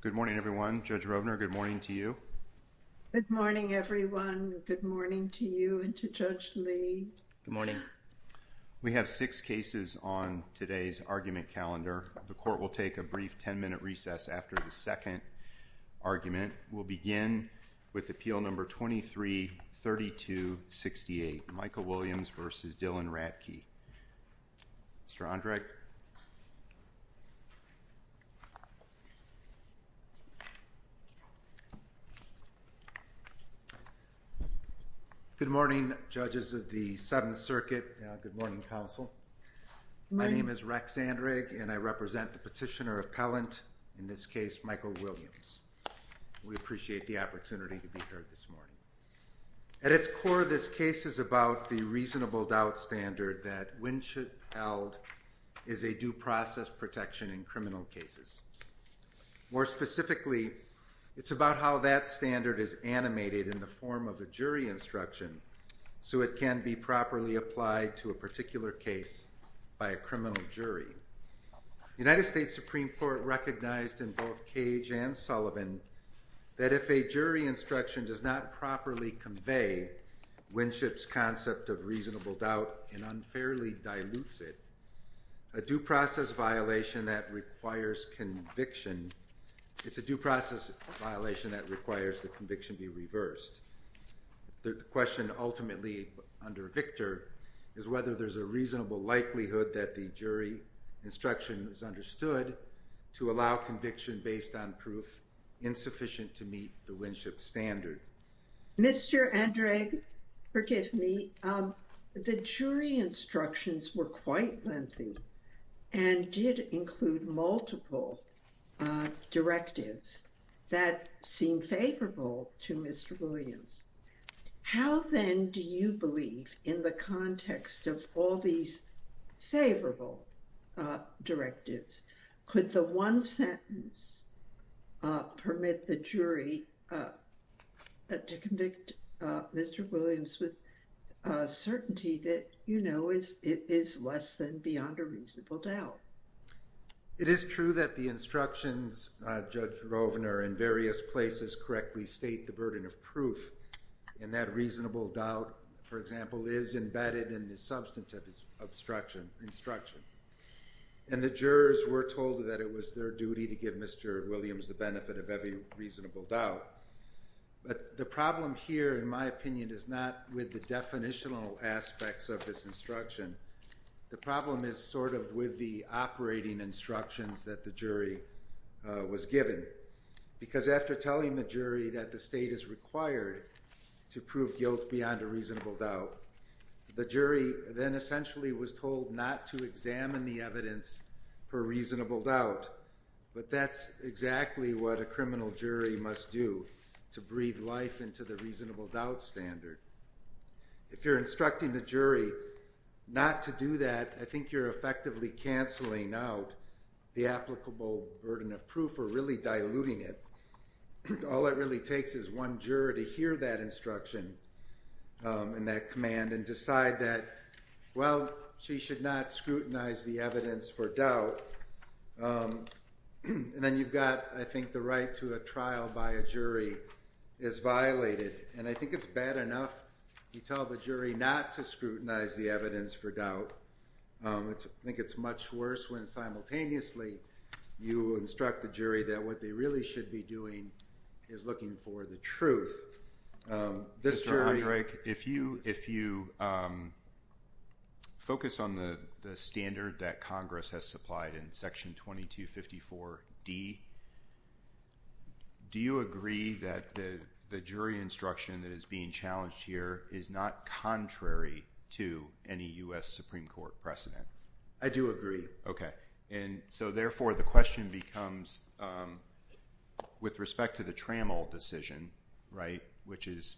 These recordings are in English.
Good morning everyone. Judge Rovner, good morning to you. Good morning everyone. Good morning to you and to Judge Lee. Good morning. We have six cases on today's argument calendar. The court will take a brief ten-minute recess after the second argument. We'll begin with Appeal Number 23-3268, Michael Williams v. Dylon Radtke. Mr. Andrag. Good morning, judges of the Seventh Circuit. Good morning, counsel. My name is Rex Andrag and I represent the petitioner appellant, in this case, Michael Williams. We appreciate the opportunity to be here this morning. At its core, this case is about the reasonable doubt standard that Winship held is a due process protection in criminal cases. More specifically, it's about how that standard is animated in the form of a jury instruction so it can be properly applied to a particular case by a criminal jury. The United States Supreme Court recognized in both Cage and Sullivan that if a jury instruction does not properly convey Winship's concept of reasonable doubt and unfairly dilutes it, it's a due process violation that requires the conviction be reversed. The question ultimately under Victor is whether there's a reasonable likelihood that the jury instruction is understood to allow conviction based on proof insufficient to meet the Winship standard. Mr. Andrag, forgive me. The jury instructions were quite lengthy and did include multiple directives that seem favorable to Mr. Williams. How then do you believe, in the context of all these favorable directives, could the one sentence permit the jury to convict Mr. Williams with certainty that, you know, it is less than beyond a reasonable doubt? It is true that the instructions, Judge Rovner, in various places correctly state the burden of proof, and that reasonable doubt, for example, is embedded in the substantive instruction. And the jurors were told that it was their duty to give Mr. Williams the benefit of every reasonable doubt. But the problem here, in my opinion, is not with the definitional aspects of this instruction. The problem is sort of with the operating instructions that the jury was given. Because after telling the jury that the state is required to prove guilt beyond a reasonable doubt, the jury then essentially was told not to examine the evidence for reasonable doubt. But that's exactly what a criminal jury must do to breathe life into the reasonable doubt standard. If you're instructing the jury not to do that, I think you're effectively canceling out the applicable burden of proof or really diluting it. All it really takes is one juror to hear that instruction and that command and decide that, well, she should not scrutinize the evidence for doubt. And then you've got, I think, the right to a trial by a jury is violated. And I think it's bad enough you tell the jury not to scrutinize the evidence for doubt. I think it's much worse when simultaneously you instruct the jury that what they really should be doing is looking for the truth. Mr. Hendrick, if you focus on the standard that Congress has supplied in Section 2254D, do you agree that the jury instruction that is being challenged here is not contrary to any U.S. Supreme Court precedent? I do agree. Okay. And so, therefore, the question becomes with respect to the Trammell decision, right, which is,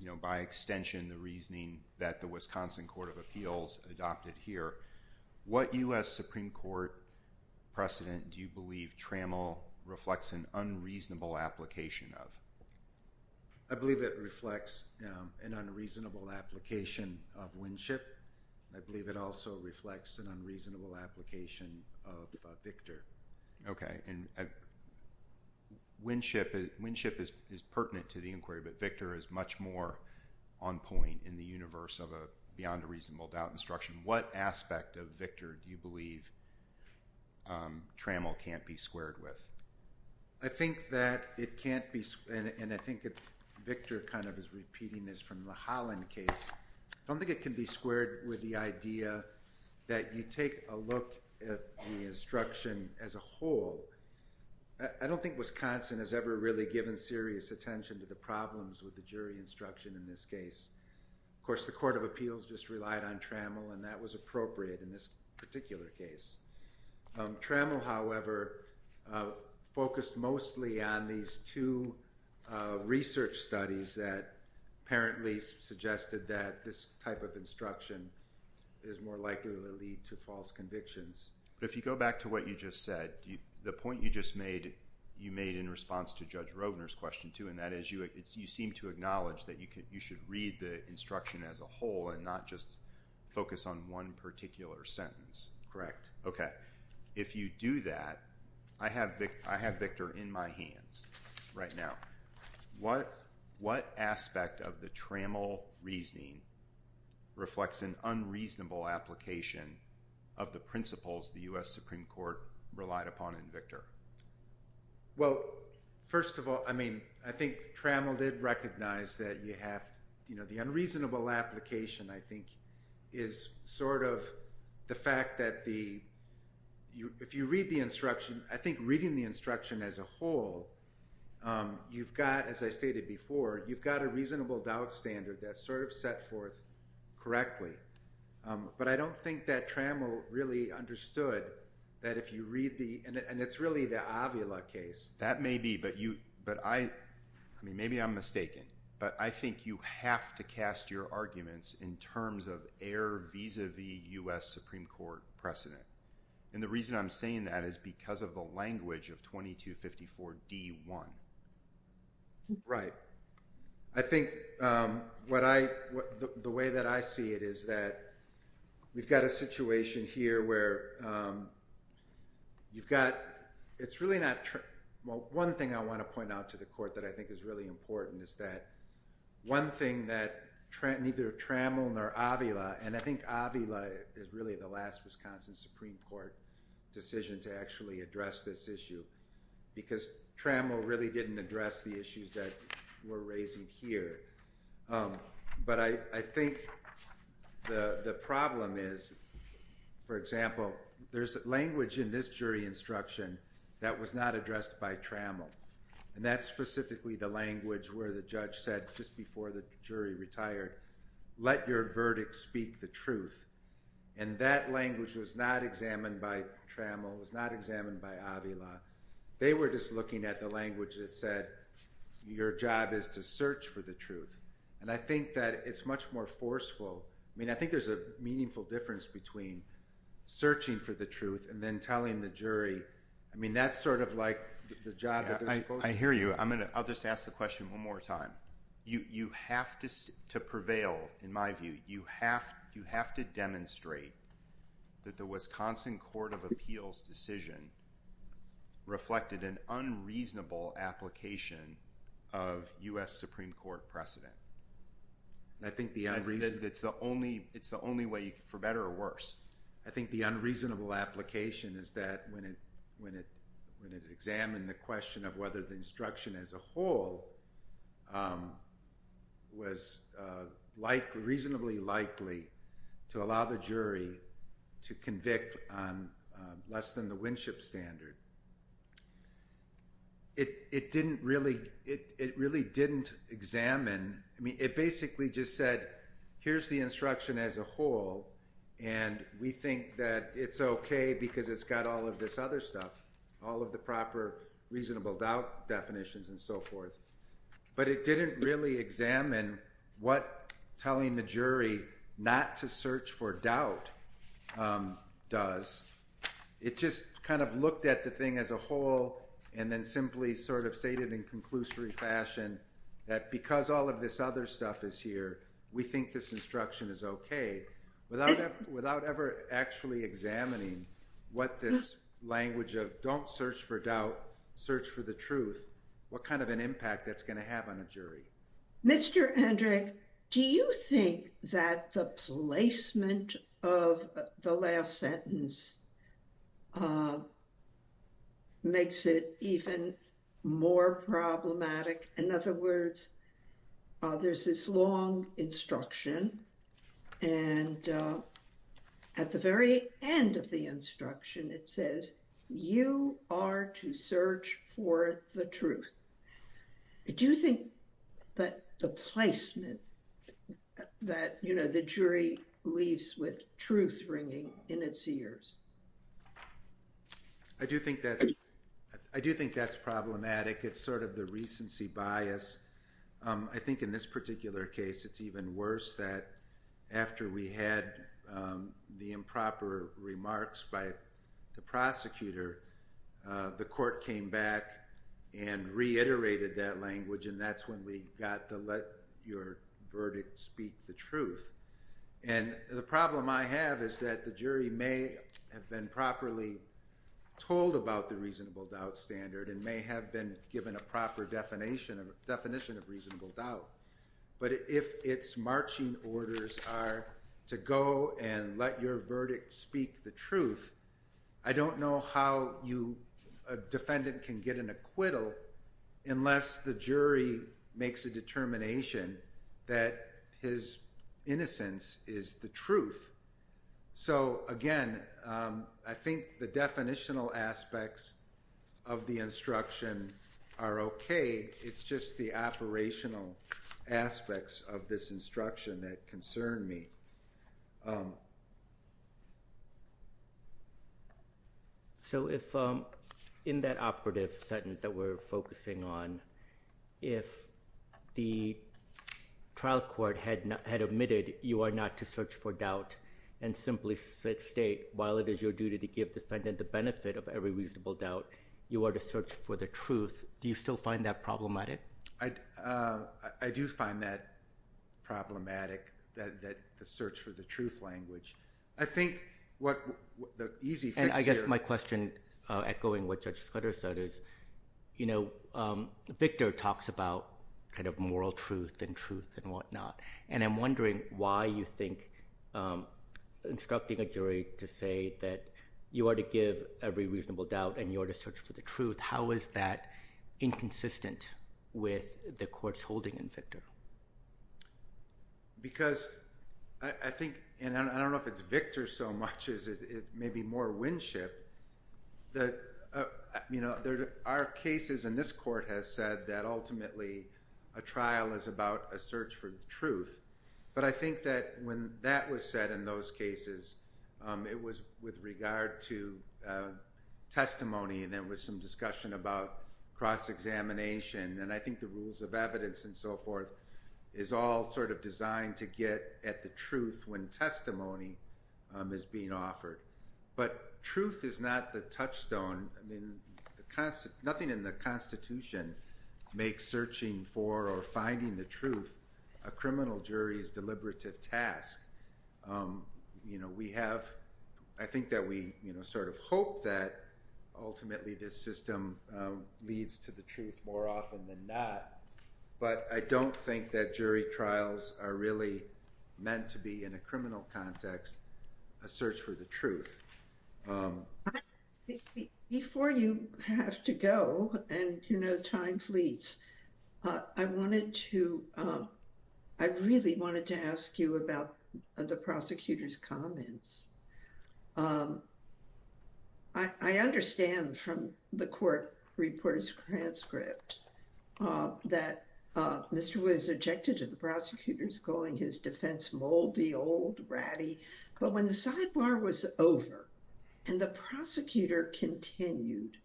you know, by extension the reasoning that the Wisconsin Court of Appeals adopted here, what U.S. Supreme Court precedent do you believe Trammell reflects an unreasonable application of? I believe it reflects an unreasonable application of Winship. I believe it also reflects an unreasonable application of Victor. And Winship is pertinent to the inquiry, but Victor is much more on point in the universe of a beyond a reasonable doubt instruction. What aspect of Victor do you believe Trammell can't be squared with? I think that it can't be, and I think Victor kind of is repeating this from the Holland case. I don't think it can be squared with the idea that you take a look at the instruction as a whole. I don't think Wisconsin has ever really given serious attention to the problems with the jury instruction in this case. Of course, the Court of Appeals just relied on Trammell, and that was appropriate in this particular case. Trammell, however, focused mostly on these two research studies that apparently suggested that this type of instruction is more likely to lead to false convictions. But if you go back to what you just said, the point you just made, you made in response to Judge Roedner's question, too, and that is you seem to acknowledge that you should read the instruction as a whole and not just focus on one particular sentence. Correct. Okay. If you do that, I have Victor in my hands right now. What aspect of the Trammell reasoning reflects an unreasonable application of the principles the U.S. Supreme Court relied upon in Victor? Well, first of all, I think Trammell did recognize that the unreasonable application, I think, is sort of the fact that if you read the instruction, I think reading the instruction as a whole, you've got, as I stated before, you've got a reasonable doubt standard that's sort of set forth correctly. But I don't think that Trammell really understood that if you read the, and it's really the Avila case. That may be, but you, but I, I mean, maybe I'm mistaken, but I think you have to cast your arguments in terms of air vis-a-vis U.S. Supreme Court precedent. And the reason I'm saying that is because of the language of 2254 D.1. Right. I think what I, the way that I see it is that we've got a situation here where you've got, it's really not, well, one thing I want to point out to the court that I think is really important is that one thing that neither Trammell nor Avila, and I think Avila is really the last Wisconsin Supreme Court decision to actually address this issue, because Trammell really didn't address the issues that we're raising here. But I think the problem is, for example, there's language in this jury instruction that was not addressed by Trammell. And that's specifically the language where the judge said just before the jury retired, let your verdict speak the truth. And that language was not examined by Trammell, was not examined by Avila. They were just looking at the language that said, your job is to search for the truth. And I think that it's much more forceful. I mean, I think there's a meaningful difference between searching for the truth and then telling the jury. I mean, that's sort of like the job that they're supposed to do. I hear you. I'll just ask the question one more time. You have to prevail, in my view. You have to demonstrate that the Wisconsin Court of Appeals decision reflected an unreasonable application of U.S. Supreme Court precedent. I think the unreasonable. It's the only way, for better or worse. I think the unreasonable application is that when it examined the question of whether the instruction as a whole was reasonably likely to allow the jury to convict on less than the Winship standard, it really didn't examine. It basically just said, here's the instruction as a whole. And we think that it's OK because it's got all of this other stuff, all of the proper reasonable doubt definitions and so forth. But it didn't really examine what telling the jury not to search for doubt does. It just kind of looked at the thing as a whole and then simply sort of stated in conclusory fashion that because all of this other stuff is here, we think this instruction is OK. Without ever actually examining what this language of don't search for doubt, search for the truth, what kind of an impact that's going to have on a jury? Mr. Hendrick, do you think that the placement of the last sentence makes it even more problematic? In other words, there's this long instruction and at the very end of the instruction, it says you are to search for the truth. Do you think that the placement that the jury leaves with truth ringing in its ears? I do think that's problematic. It's sort of the recency bias. I think in this particular case, it's even worse that after we had the improper remarks by the prosecutor, the court came back and reiterated that language and that's when we got to let your verdict speak the truth. And the problem I have is that the jury may have been properly told about the reasonable doubt standard and may have been given a proper definition of reasonable doubt. But if its marching orders are to go and let your verdict speak the truth, I don't know how a defendant can get an acquittal unless the jury makes a determination that his innocence is the truth. So again, I think the definitional aspects of the instruction are okay. It's just the operational aspects of this instruction that concern me. So in that operative sentence that we're focusing on, if the trial court had admitted you are not to search for doubt and simply state while it is your duty to give the defendant the benefit of every reasonable doubt, you are to search for the truth, do you still find that problematic? I do find that problematic, the search for the truth language. And I guess my question, echoing what Judge Scudder said, is Victor talks about moral truth and truth and whatnot. And I'm wondering why you think instructing a jury to say that you are to give every reasonable doubt and you are to search for the truth, how is that inconsistent with the court's holding in Victor? Because I think, and I don't know if it's Victor so much as it may be more Winship, our cases in this court has said that ultimately a trial is about a search for the truth. But I think that when that was said in those cases, it was with regard to testimony and there was some discussion about cross-examination and I think the rules of evidence and so forth is all sort of designed to get at the truth when testimony is being offered. But truth is not the touchstone, nothing in the Constitution makes searching for or finding the truth a criminal jury's deliberative task. We have, I think that we sort of hope that ultimately this system leads to the truth more often than not, but I don't think that jury trials are really meant to be, in a criminal context, a search for the truth. Before you have to go, and you know time fleets, I wanted to, I really wanted to ask you about the prosecutor's comments. I understand from the court reporter's transcript that Mr. Williams objected to the prosecutors calling his defense moldy, old, ratty, but when the sidebar was over and the prosecutor continued,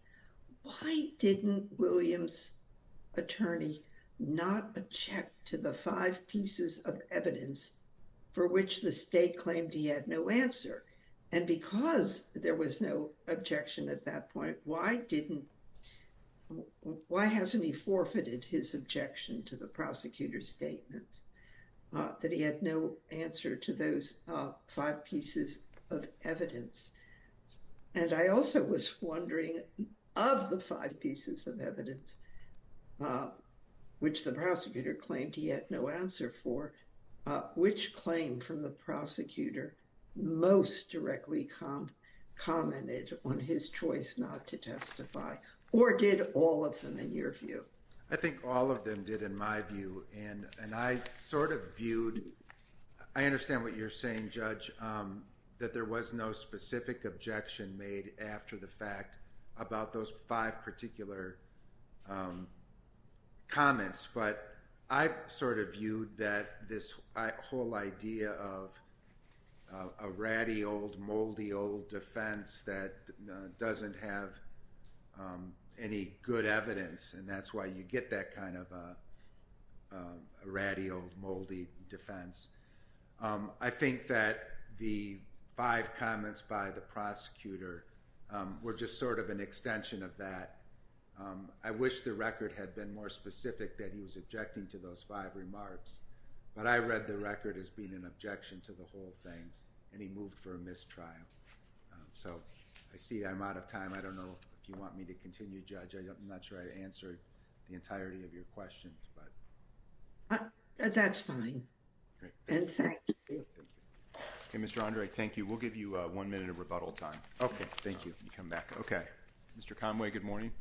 why didn't Williams' attorney not object to the five pieces of evidence for which the state claimed he had no answer? And because there was no objection at that point, why didn't, why hasn't he forfeited his objection to the prosecutor's statements that he had no answer to those five pieces of evidence? And I also was wondering, of the five pieces of evidence which the prosecutor claimed he had no answer for, which claim from the prosecutor most directly commented on his choice not to testify, or did all of them in your view? I think all of them did in my view, and I sort of viewed, I understand what you're saying, Judge, that there was no specific objection made after the fact about those five particular comments, but I sort of viewed that this whole idea of a ratty, old, moldy, old defense that doesn't have any good evidence, and that's why you get that kind of a ratty, old, moldy defense. I think that the five comments by the prosecutor were just sort of an extension of that. I wish the record had been more specific that he was objecting to those five remarks, but I read the record as being an objection to the whole thing, and he moved for a mistrial. So, I see I'm out of time. I don't know if you want me to continue, Judge. I'm not sure I answered the entirety of your question, but... Okay, Mr. Andre, thank you. We'll give you one minute of rebuttal time. Okay, thank you. You can come back. Okay. Mr. Conway, good morning.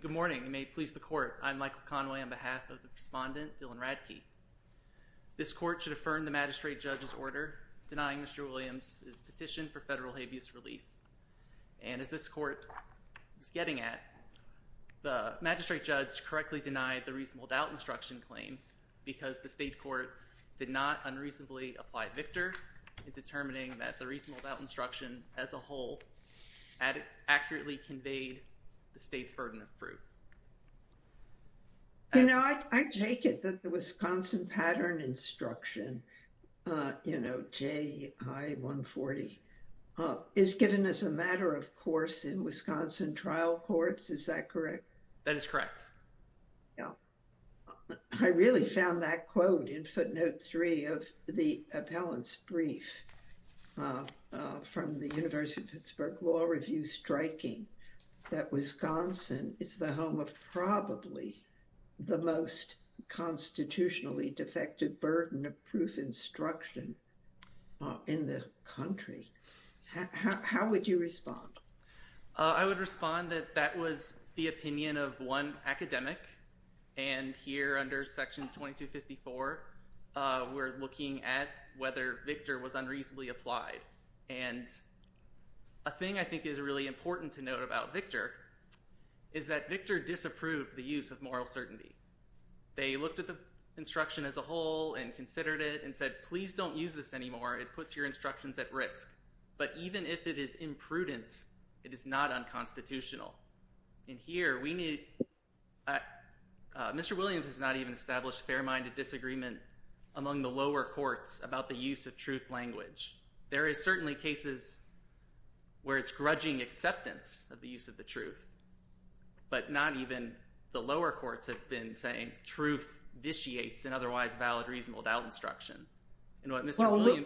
Good morning, and may it please the Court. I'm Michael Conway on behalf of the respondent, Dylan Radtke. This Court should affirm the magistrate judge's order denying Mr. Williams' petition for federal habeas relief. And as this Court was getting at, the magistrate judge correctly denied the reasonable doubt instruction claim because the state court did not unreasonably apply Victor in determining that the reasonable doubt instruction as a whole accurately conveyed the state's burden of proof. You know, I take it that the Wisconsin pattern instruction, you know, J.I. 140, is given as a matter of course in Wisconsin trial courts. Is that correct? That is correct. I really found that quote in footnote three of the appellant's brief from the University of Pittsburgh Law Review striking that Wisconsin is the home of probably the most constitutionally defective burden of proof instruction in the country. How would you respond? I would respond that that was the opinion of one academic. And here under section 2254, we're looking at whether Victor was unreasonably applied. And a thing I think is really important to note about Victor is that Victor disapproved the use of moral certainty. They looked at the instruction as a whole and considered it and said, please don't use this anymore. It puts your instructions at risk. But even if it is imprudent, it is not unconstitutional. And here we need – Mr. Williams has not even established a fair-minded disagreement among the lower courts about the use of truth language. There is certainly cases where it's grudging acceptance of the use of the truth, but not even the lower courts have been saying truth vitiates an otherwise valid reasonable doubt instruction. Well,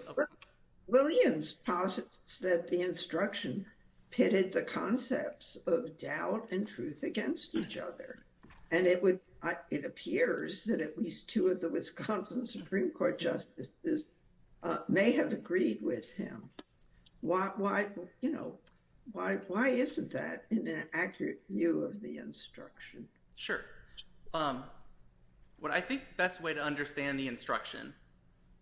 Williams posits that the instruction pitted the concepts of doubt and truth against each other, and it appears that at least two of the Wisconsin Supreme Court justices may have agreed with him. Why isn't that in an accurate view of the instruction? Sure. What I think the best way to understand the instruction,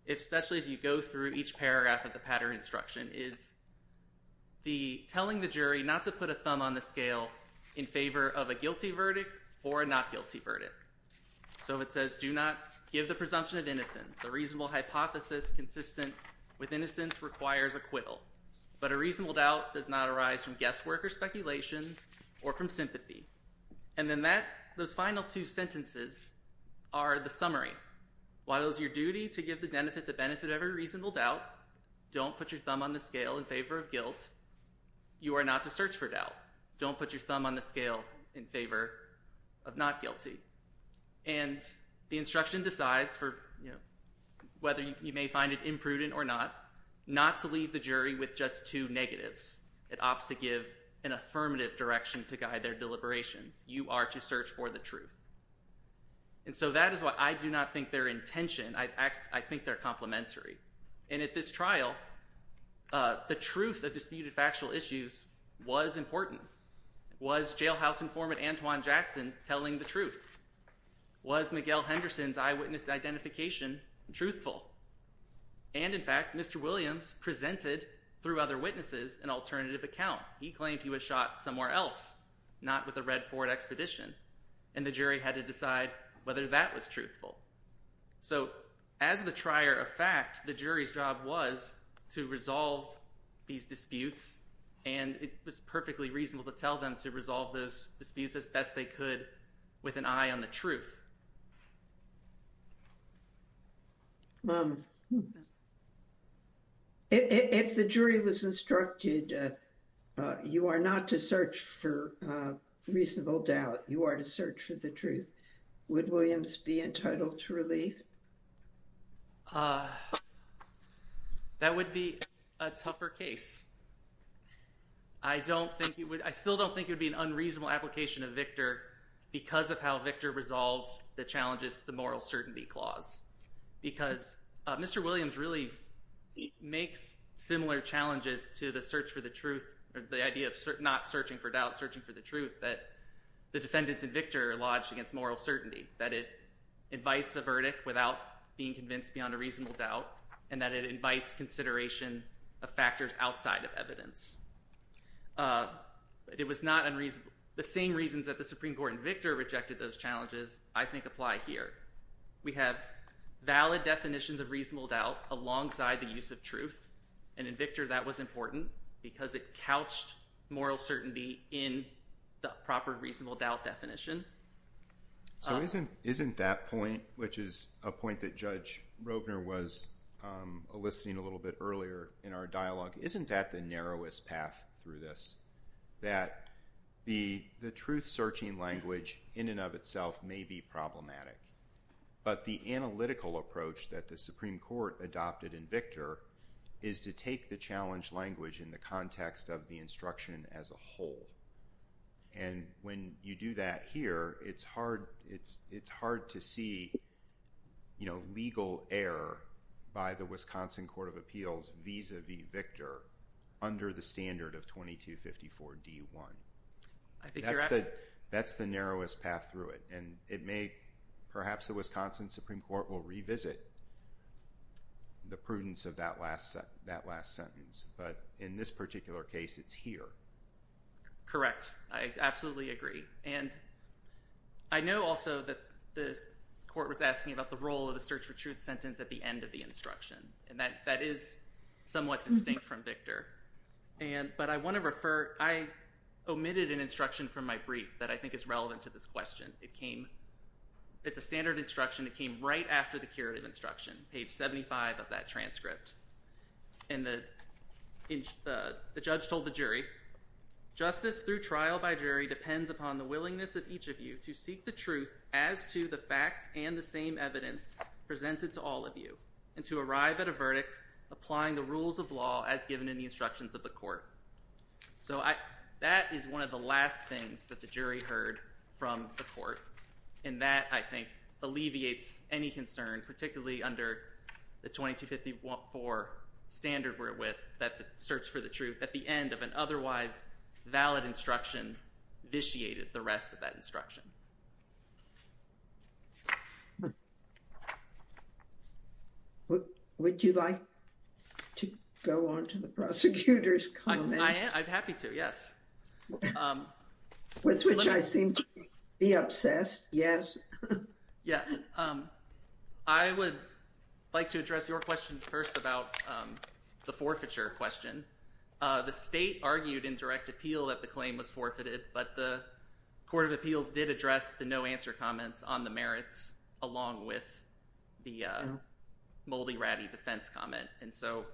especially as you go through each paragraph of the pattern instruction, is the telling the jury not to put a thumb on the scale in favor of a guilty verdict or a not guilty verdict. So it says, do not give the presumption of innocence. A reasonable hypothesis consistent with innocence requires acquittal. But a reasonable doubt does not arise from guesswork or speculation or from sympathy. And then that – those final two sentences are the summary. While it is your duty to give the benefit to benefit every reasonable doubt, don't put your thumb on the scale in favor of guilt. You are not to search for doubt. Don't put your thumb on the scale in favor of not guilty. And the instruction decides for – whether you may find it imprudent or not, not to leave the jury with just two negatives. It opts to give an affirmative direction to guide their deliberations. You are to search for the truth. And so that is why I do not think they're in tension. I think they're complementary. And at this trial, the truth of disputed factual issues was important. Was jailhouse informant Antoine Jackson telling the truth? Was Miguel Henderson's eyewitness identification truthful? And, in fact, Mr. Williams presented through other witnesses an alternative account. He claimed he was shot somewhere else, not with the Red Ford Expedition, and the jury had to decide whether that was truthful. So as the trier of fact, the jury's job was to resolve these disputes, and it was perfectly reasonable to tell them to resolve those disputes as best they could with an eye on the truth. If the jury was instructed you are not to search for reasonable doubt, you are to search for the truth, would Williams be entitled to relief? That would be a tougher case. I still don't think it would be an unreasonable application of Victor because of how Victor resolved the challenges to the moral certainty clause. Because Mr. Williams really makes similar challenges to the search for the truth, or the idea of not searching for doubt, searching for the truth, that the defendants in Victor are lodged against moral certainty. That it invites a verdict without being convinced beyond a reasonable doubt, and that it invites consideration of factors outside of evidence. The same reasons that the Supreme Court in Victor rejected those challenges I think apply here. We have valid definitions of reasonable doubt alongside the use of truth, and in Victor that was important because it couched moral certainty in the proper reasonable doubt definition. So isn't that point, which is a point that Judge Rovner was eliciting a little bit earlier in our dialogue, isn't that the narrowest path through this? That the truth searching language in and of itself may be problematic, but the analytical approach that the Supreme Court adopted in Victor is to take the challenge language in the context of the instruction as a whole. And when you do that here, it's hard to see legal error by the Wisconsin Court of Appeals vis-a-vis Victor under the standard of 2254 D1. That's the narrowest path through it, and it may, perhaps the Wisconsin Supreme Court will revisit the prudence of that last sentence, but in this particular case it's here. Correct. I absolutely agree. And I know also that the court was asking about the role of the search for truth sentence at the end of the instruction, and that is somewhat distinct from Victor. But I want to refer – I omitted an instruction from my brief that I think is relevant to this question. It's a standard instruction that came right after the curative instruction, page 75 of that transcript. And the judge told the jury, justice through trial by jury depends upon the willingness of each of you to seek the truth as to the facts and the same evidence presented to all of you, and to arrive at a verdict applying the rules of law as given in the instructions of the court. So that is one of the last things that the jury heard from the court, and that I think alleviates any concern, particularly under the 2254 standard we're with that the search for the truth at the end of an otherwise valid instruction vitiated the rest of that instruction. Would you like to go on to the prosecutor's comments? I'm happy to, yes. With which I seem to be obsessed, yes. Yeah. I would like to address your question first about the forfeiture question. The state argued in direct appeal that the claim was forfeited, but the Court of Appeals did address the no answer comments on the merits along with the Moldy Ratty defense comment. And so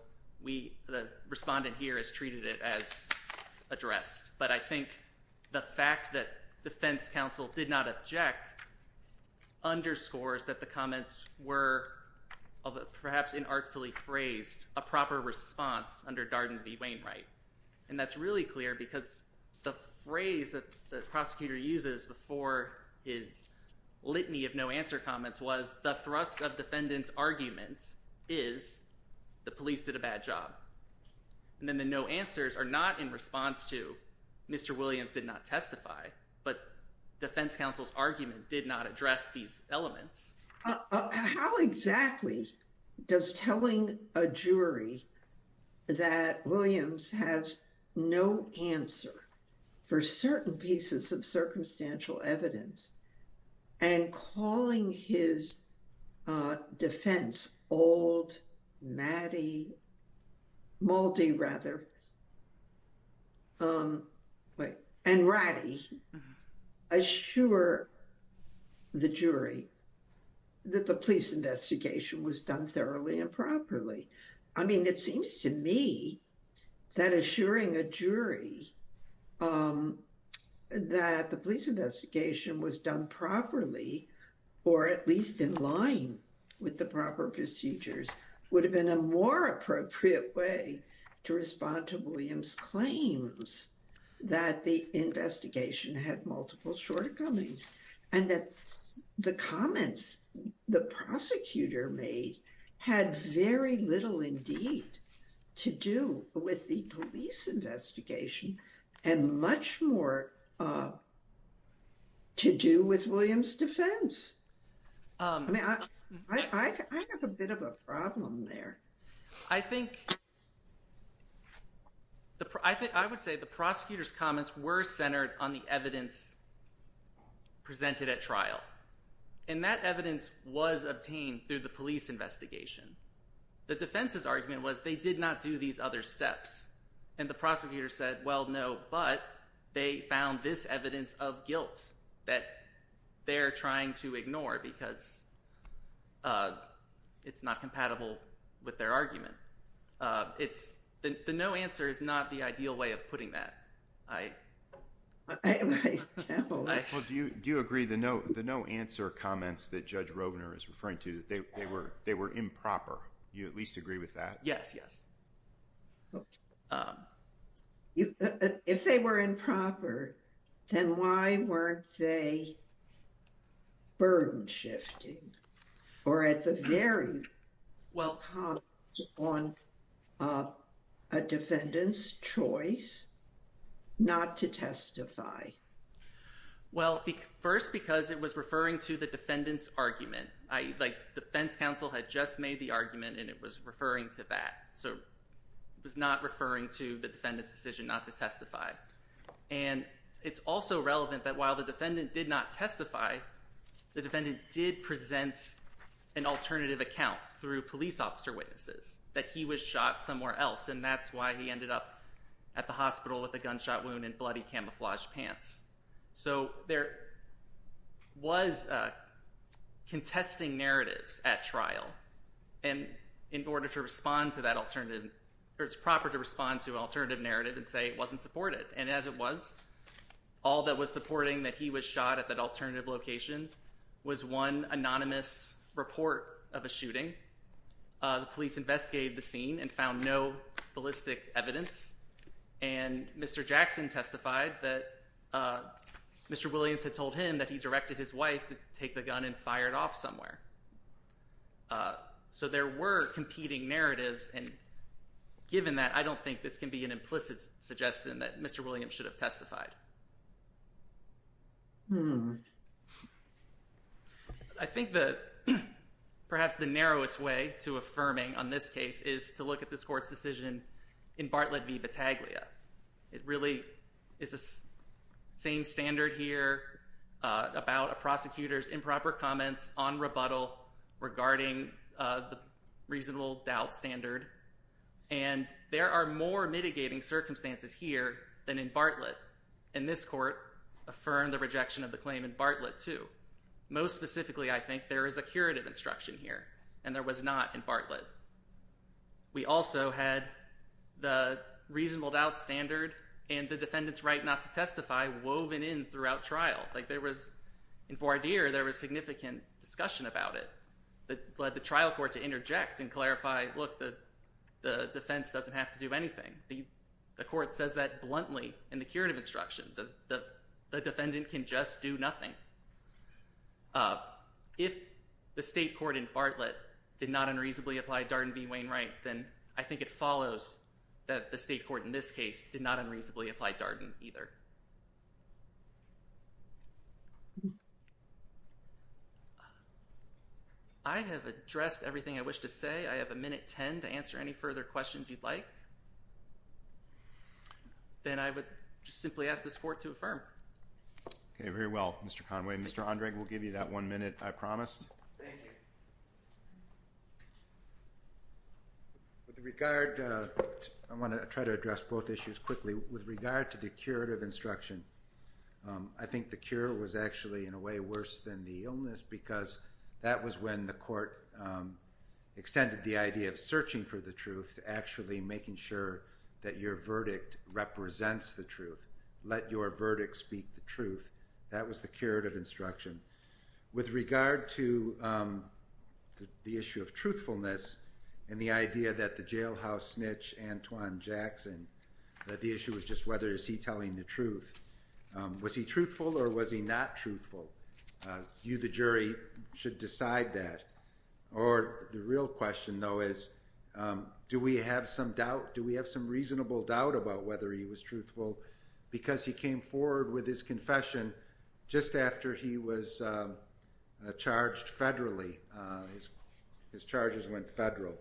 we – the respondent here has treated it as addressed. But I think the fact that defense counsel did not object underscores that the comments were perhaps inartfully phrased a proper response under Darden v. Wainwright. And that's really clear because the phrase that the prosecutor uses before his litany of no answer comments was the thrust of defendant's argument is the police did a bad job. And then the no answers are not in response to Mr. Williams did not testify, but defense counsel's argument did not address these elements. How exactly does telling a jury that Williams has no answer for certain pieces of circumstantial evidence and calling his defense old Moldy and Ratty assure the jury? That the police investigation was done thoroughly and properly. I mean, it seems to me that assuring a jury that the police investigation was done properly, or at least in line with the proper procedures, would have been a more appropriate way to respond to Williams' claims that the investigation had multiple shortcomings. And that the comments the prosecutor made had very little indeed to do with the police investigation and much more to do with Williams' defense. I mean, I have a bit of a problem there. I think I would say the prosecutor's comments were centered on the evidence presented at trial. And that evidence was obtained through the police investigation. The defense's argument was they did not do these other steps. And the prosecutor said, well, no, but they found this evidence of guilt that they're trying to ignore because it's not compatible with their argument. The no answer is not the ideal way of putting that. Well, do you agree the no answer comments that Judge Robner is referring to, that they were improper? Do you at least agree with that? Yes, yes. If they were improper, then why weren't they burden shifting or at the very top on a defendant's choice not to testify? Well, first, because it was referring to the defendant's argument. The defense counsel had just made the argument, and it was referring to that. So it was not referring to the defendant's decision not to testify. And it's also relevant that while the defendant did not testify, the defendant did present an alternative account through police officer witnesses, that he was shot somewhere else. And that's why he ended up at the hospital with a gunshot wound and bloody camouflaged pants. So there was contesting narratives at trial. And in order to respond to that alternative, or it's proper to respond to an alternative narrative and say it wasn't supported. And as it was, all that was supporting that he was shot at that alternative location was one anonymous report of a shooting. The police investigated the scene and found no ballistic evidence. And Mr. Jackson testified that Mr. Williams had told him that he directed his wife to take the gun and fire it off somewhere. So there were competing narratives. And given that, I don't think this can be an implicit suggestion that Mr. Williams should have testified. I think that perhaps the narrowest way to affirming on this case is to look at this court's decision in Bartlett v. Battaglia. It really is the same standard here about a prosecutor's improper comments on rebuttal regarding the reasonable doubt standard. And there are more mitigating circumstances here than in Bartlett. And this court affirmed the rejection of the claim in Bartlett too. Most specifically, I think, there is a curative instruction here. And there was not in Bartlett. We also had the reasonable doubt standard and the defendant's right not to testify woven in throughout trial. Like there was – in Voir dire, there was significant discussion about it that led the trial court to interject and clarify, look, the defense doesn't have to do anything. The court says that bluntly in the curative instruction. The defendant can just do nothing. If the state court in Bartlett did not unreasonably apply Darden v. Wainwright, then I think it follows that the state court in this case did not unreasonably apply Darden either. I have addressed everything I wish to say. I have a minute ten to answer any further questions you'd like. Then I would simply ask this court to affirm. Okay, very well, Mr. Conway. Mr. Ondrej will give you that one minute I promised. Thank you. With regard – I want to try to address both issues quickly. With regard to the curative instruction, I think the cure was actually in a way worse than the illness because that was when the court extended the idea of searching for the truth, actually making sure that your verdict represents the truth. Let your verdict speak the truth. That was the curative instruction. With regard to the issue of truthfulness and the idea that the jailhouse snitch, Antoine Jackson, that the issue was just whether is he telling the truth. Was he truthful or was he not truthful? You, the jury, should decide that. Or the real question, though, is do we have some doubt, do we have some reasonable doubt about whether he was truthful because he came forward with his confession just after he was charged federally, his charges went federal.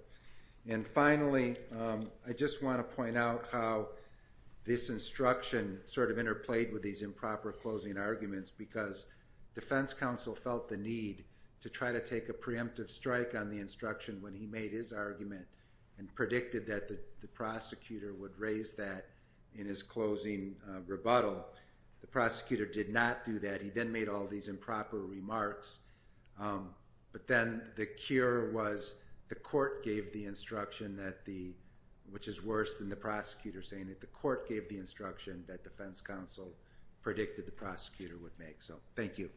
And finally, I just want to point out how this instruction sort of interplayed with these improper closing arguments because defense counsel felt the need to try to take a preemptive strike on the instruction when he made his argument and predicted that the prosecutor would raise that in his closing rebuttal. The prosecutor did not do that. He then made all these improper remarks. But then the cure was the court gave the instruction, which is worse than the prosecutor saying that the court gave the instruction that defense counsel predicted the prosecutor would make. So thank you.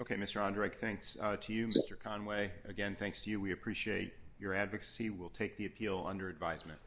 Okay, Mr. Ondrej, thanks to you. Mr. Conway, again, thanks to you. We appreciate your advocacy. We'll take the appeal under advisement.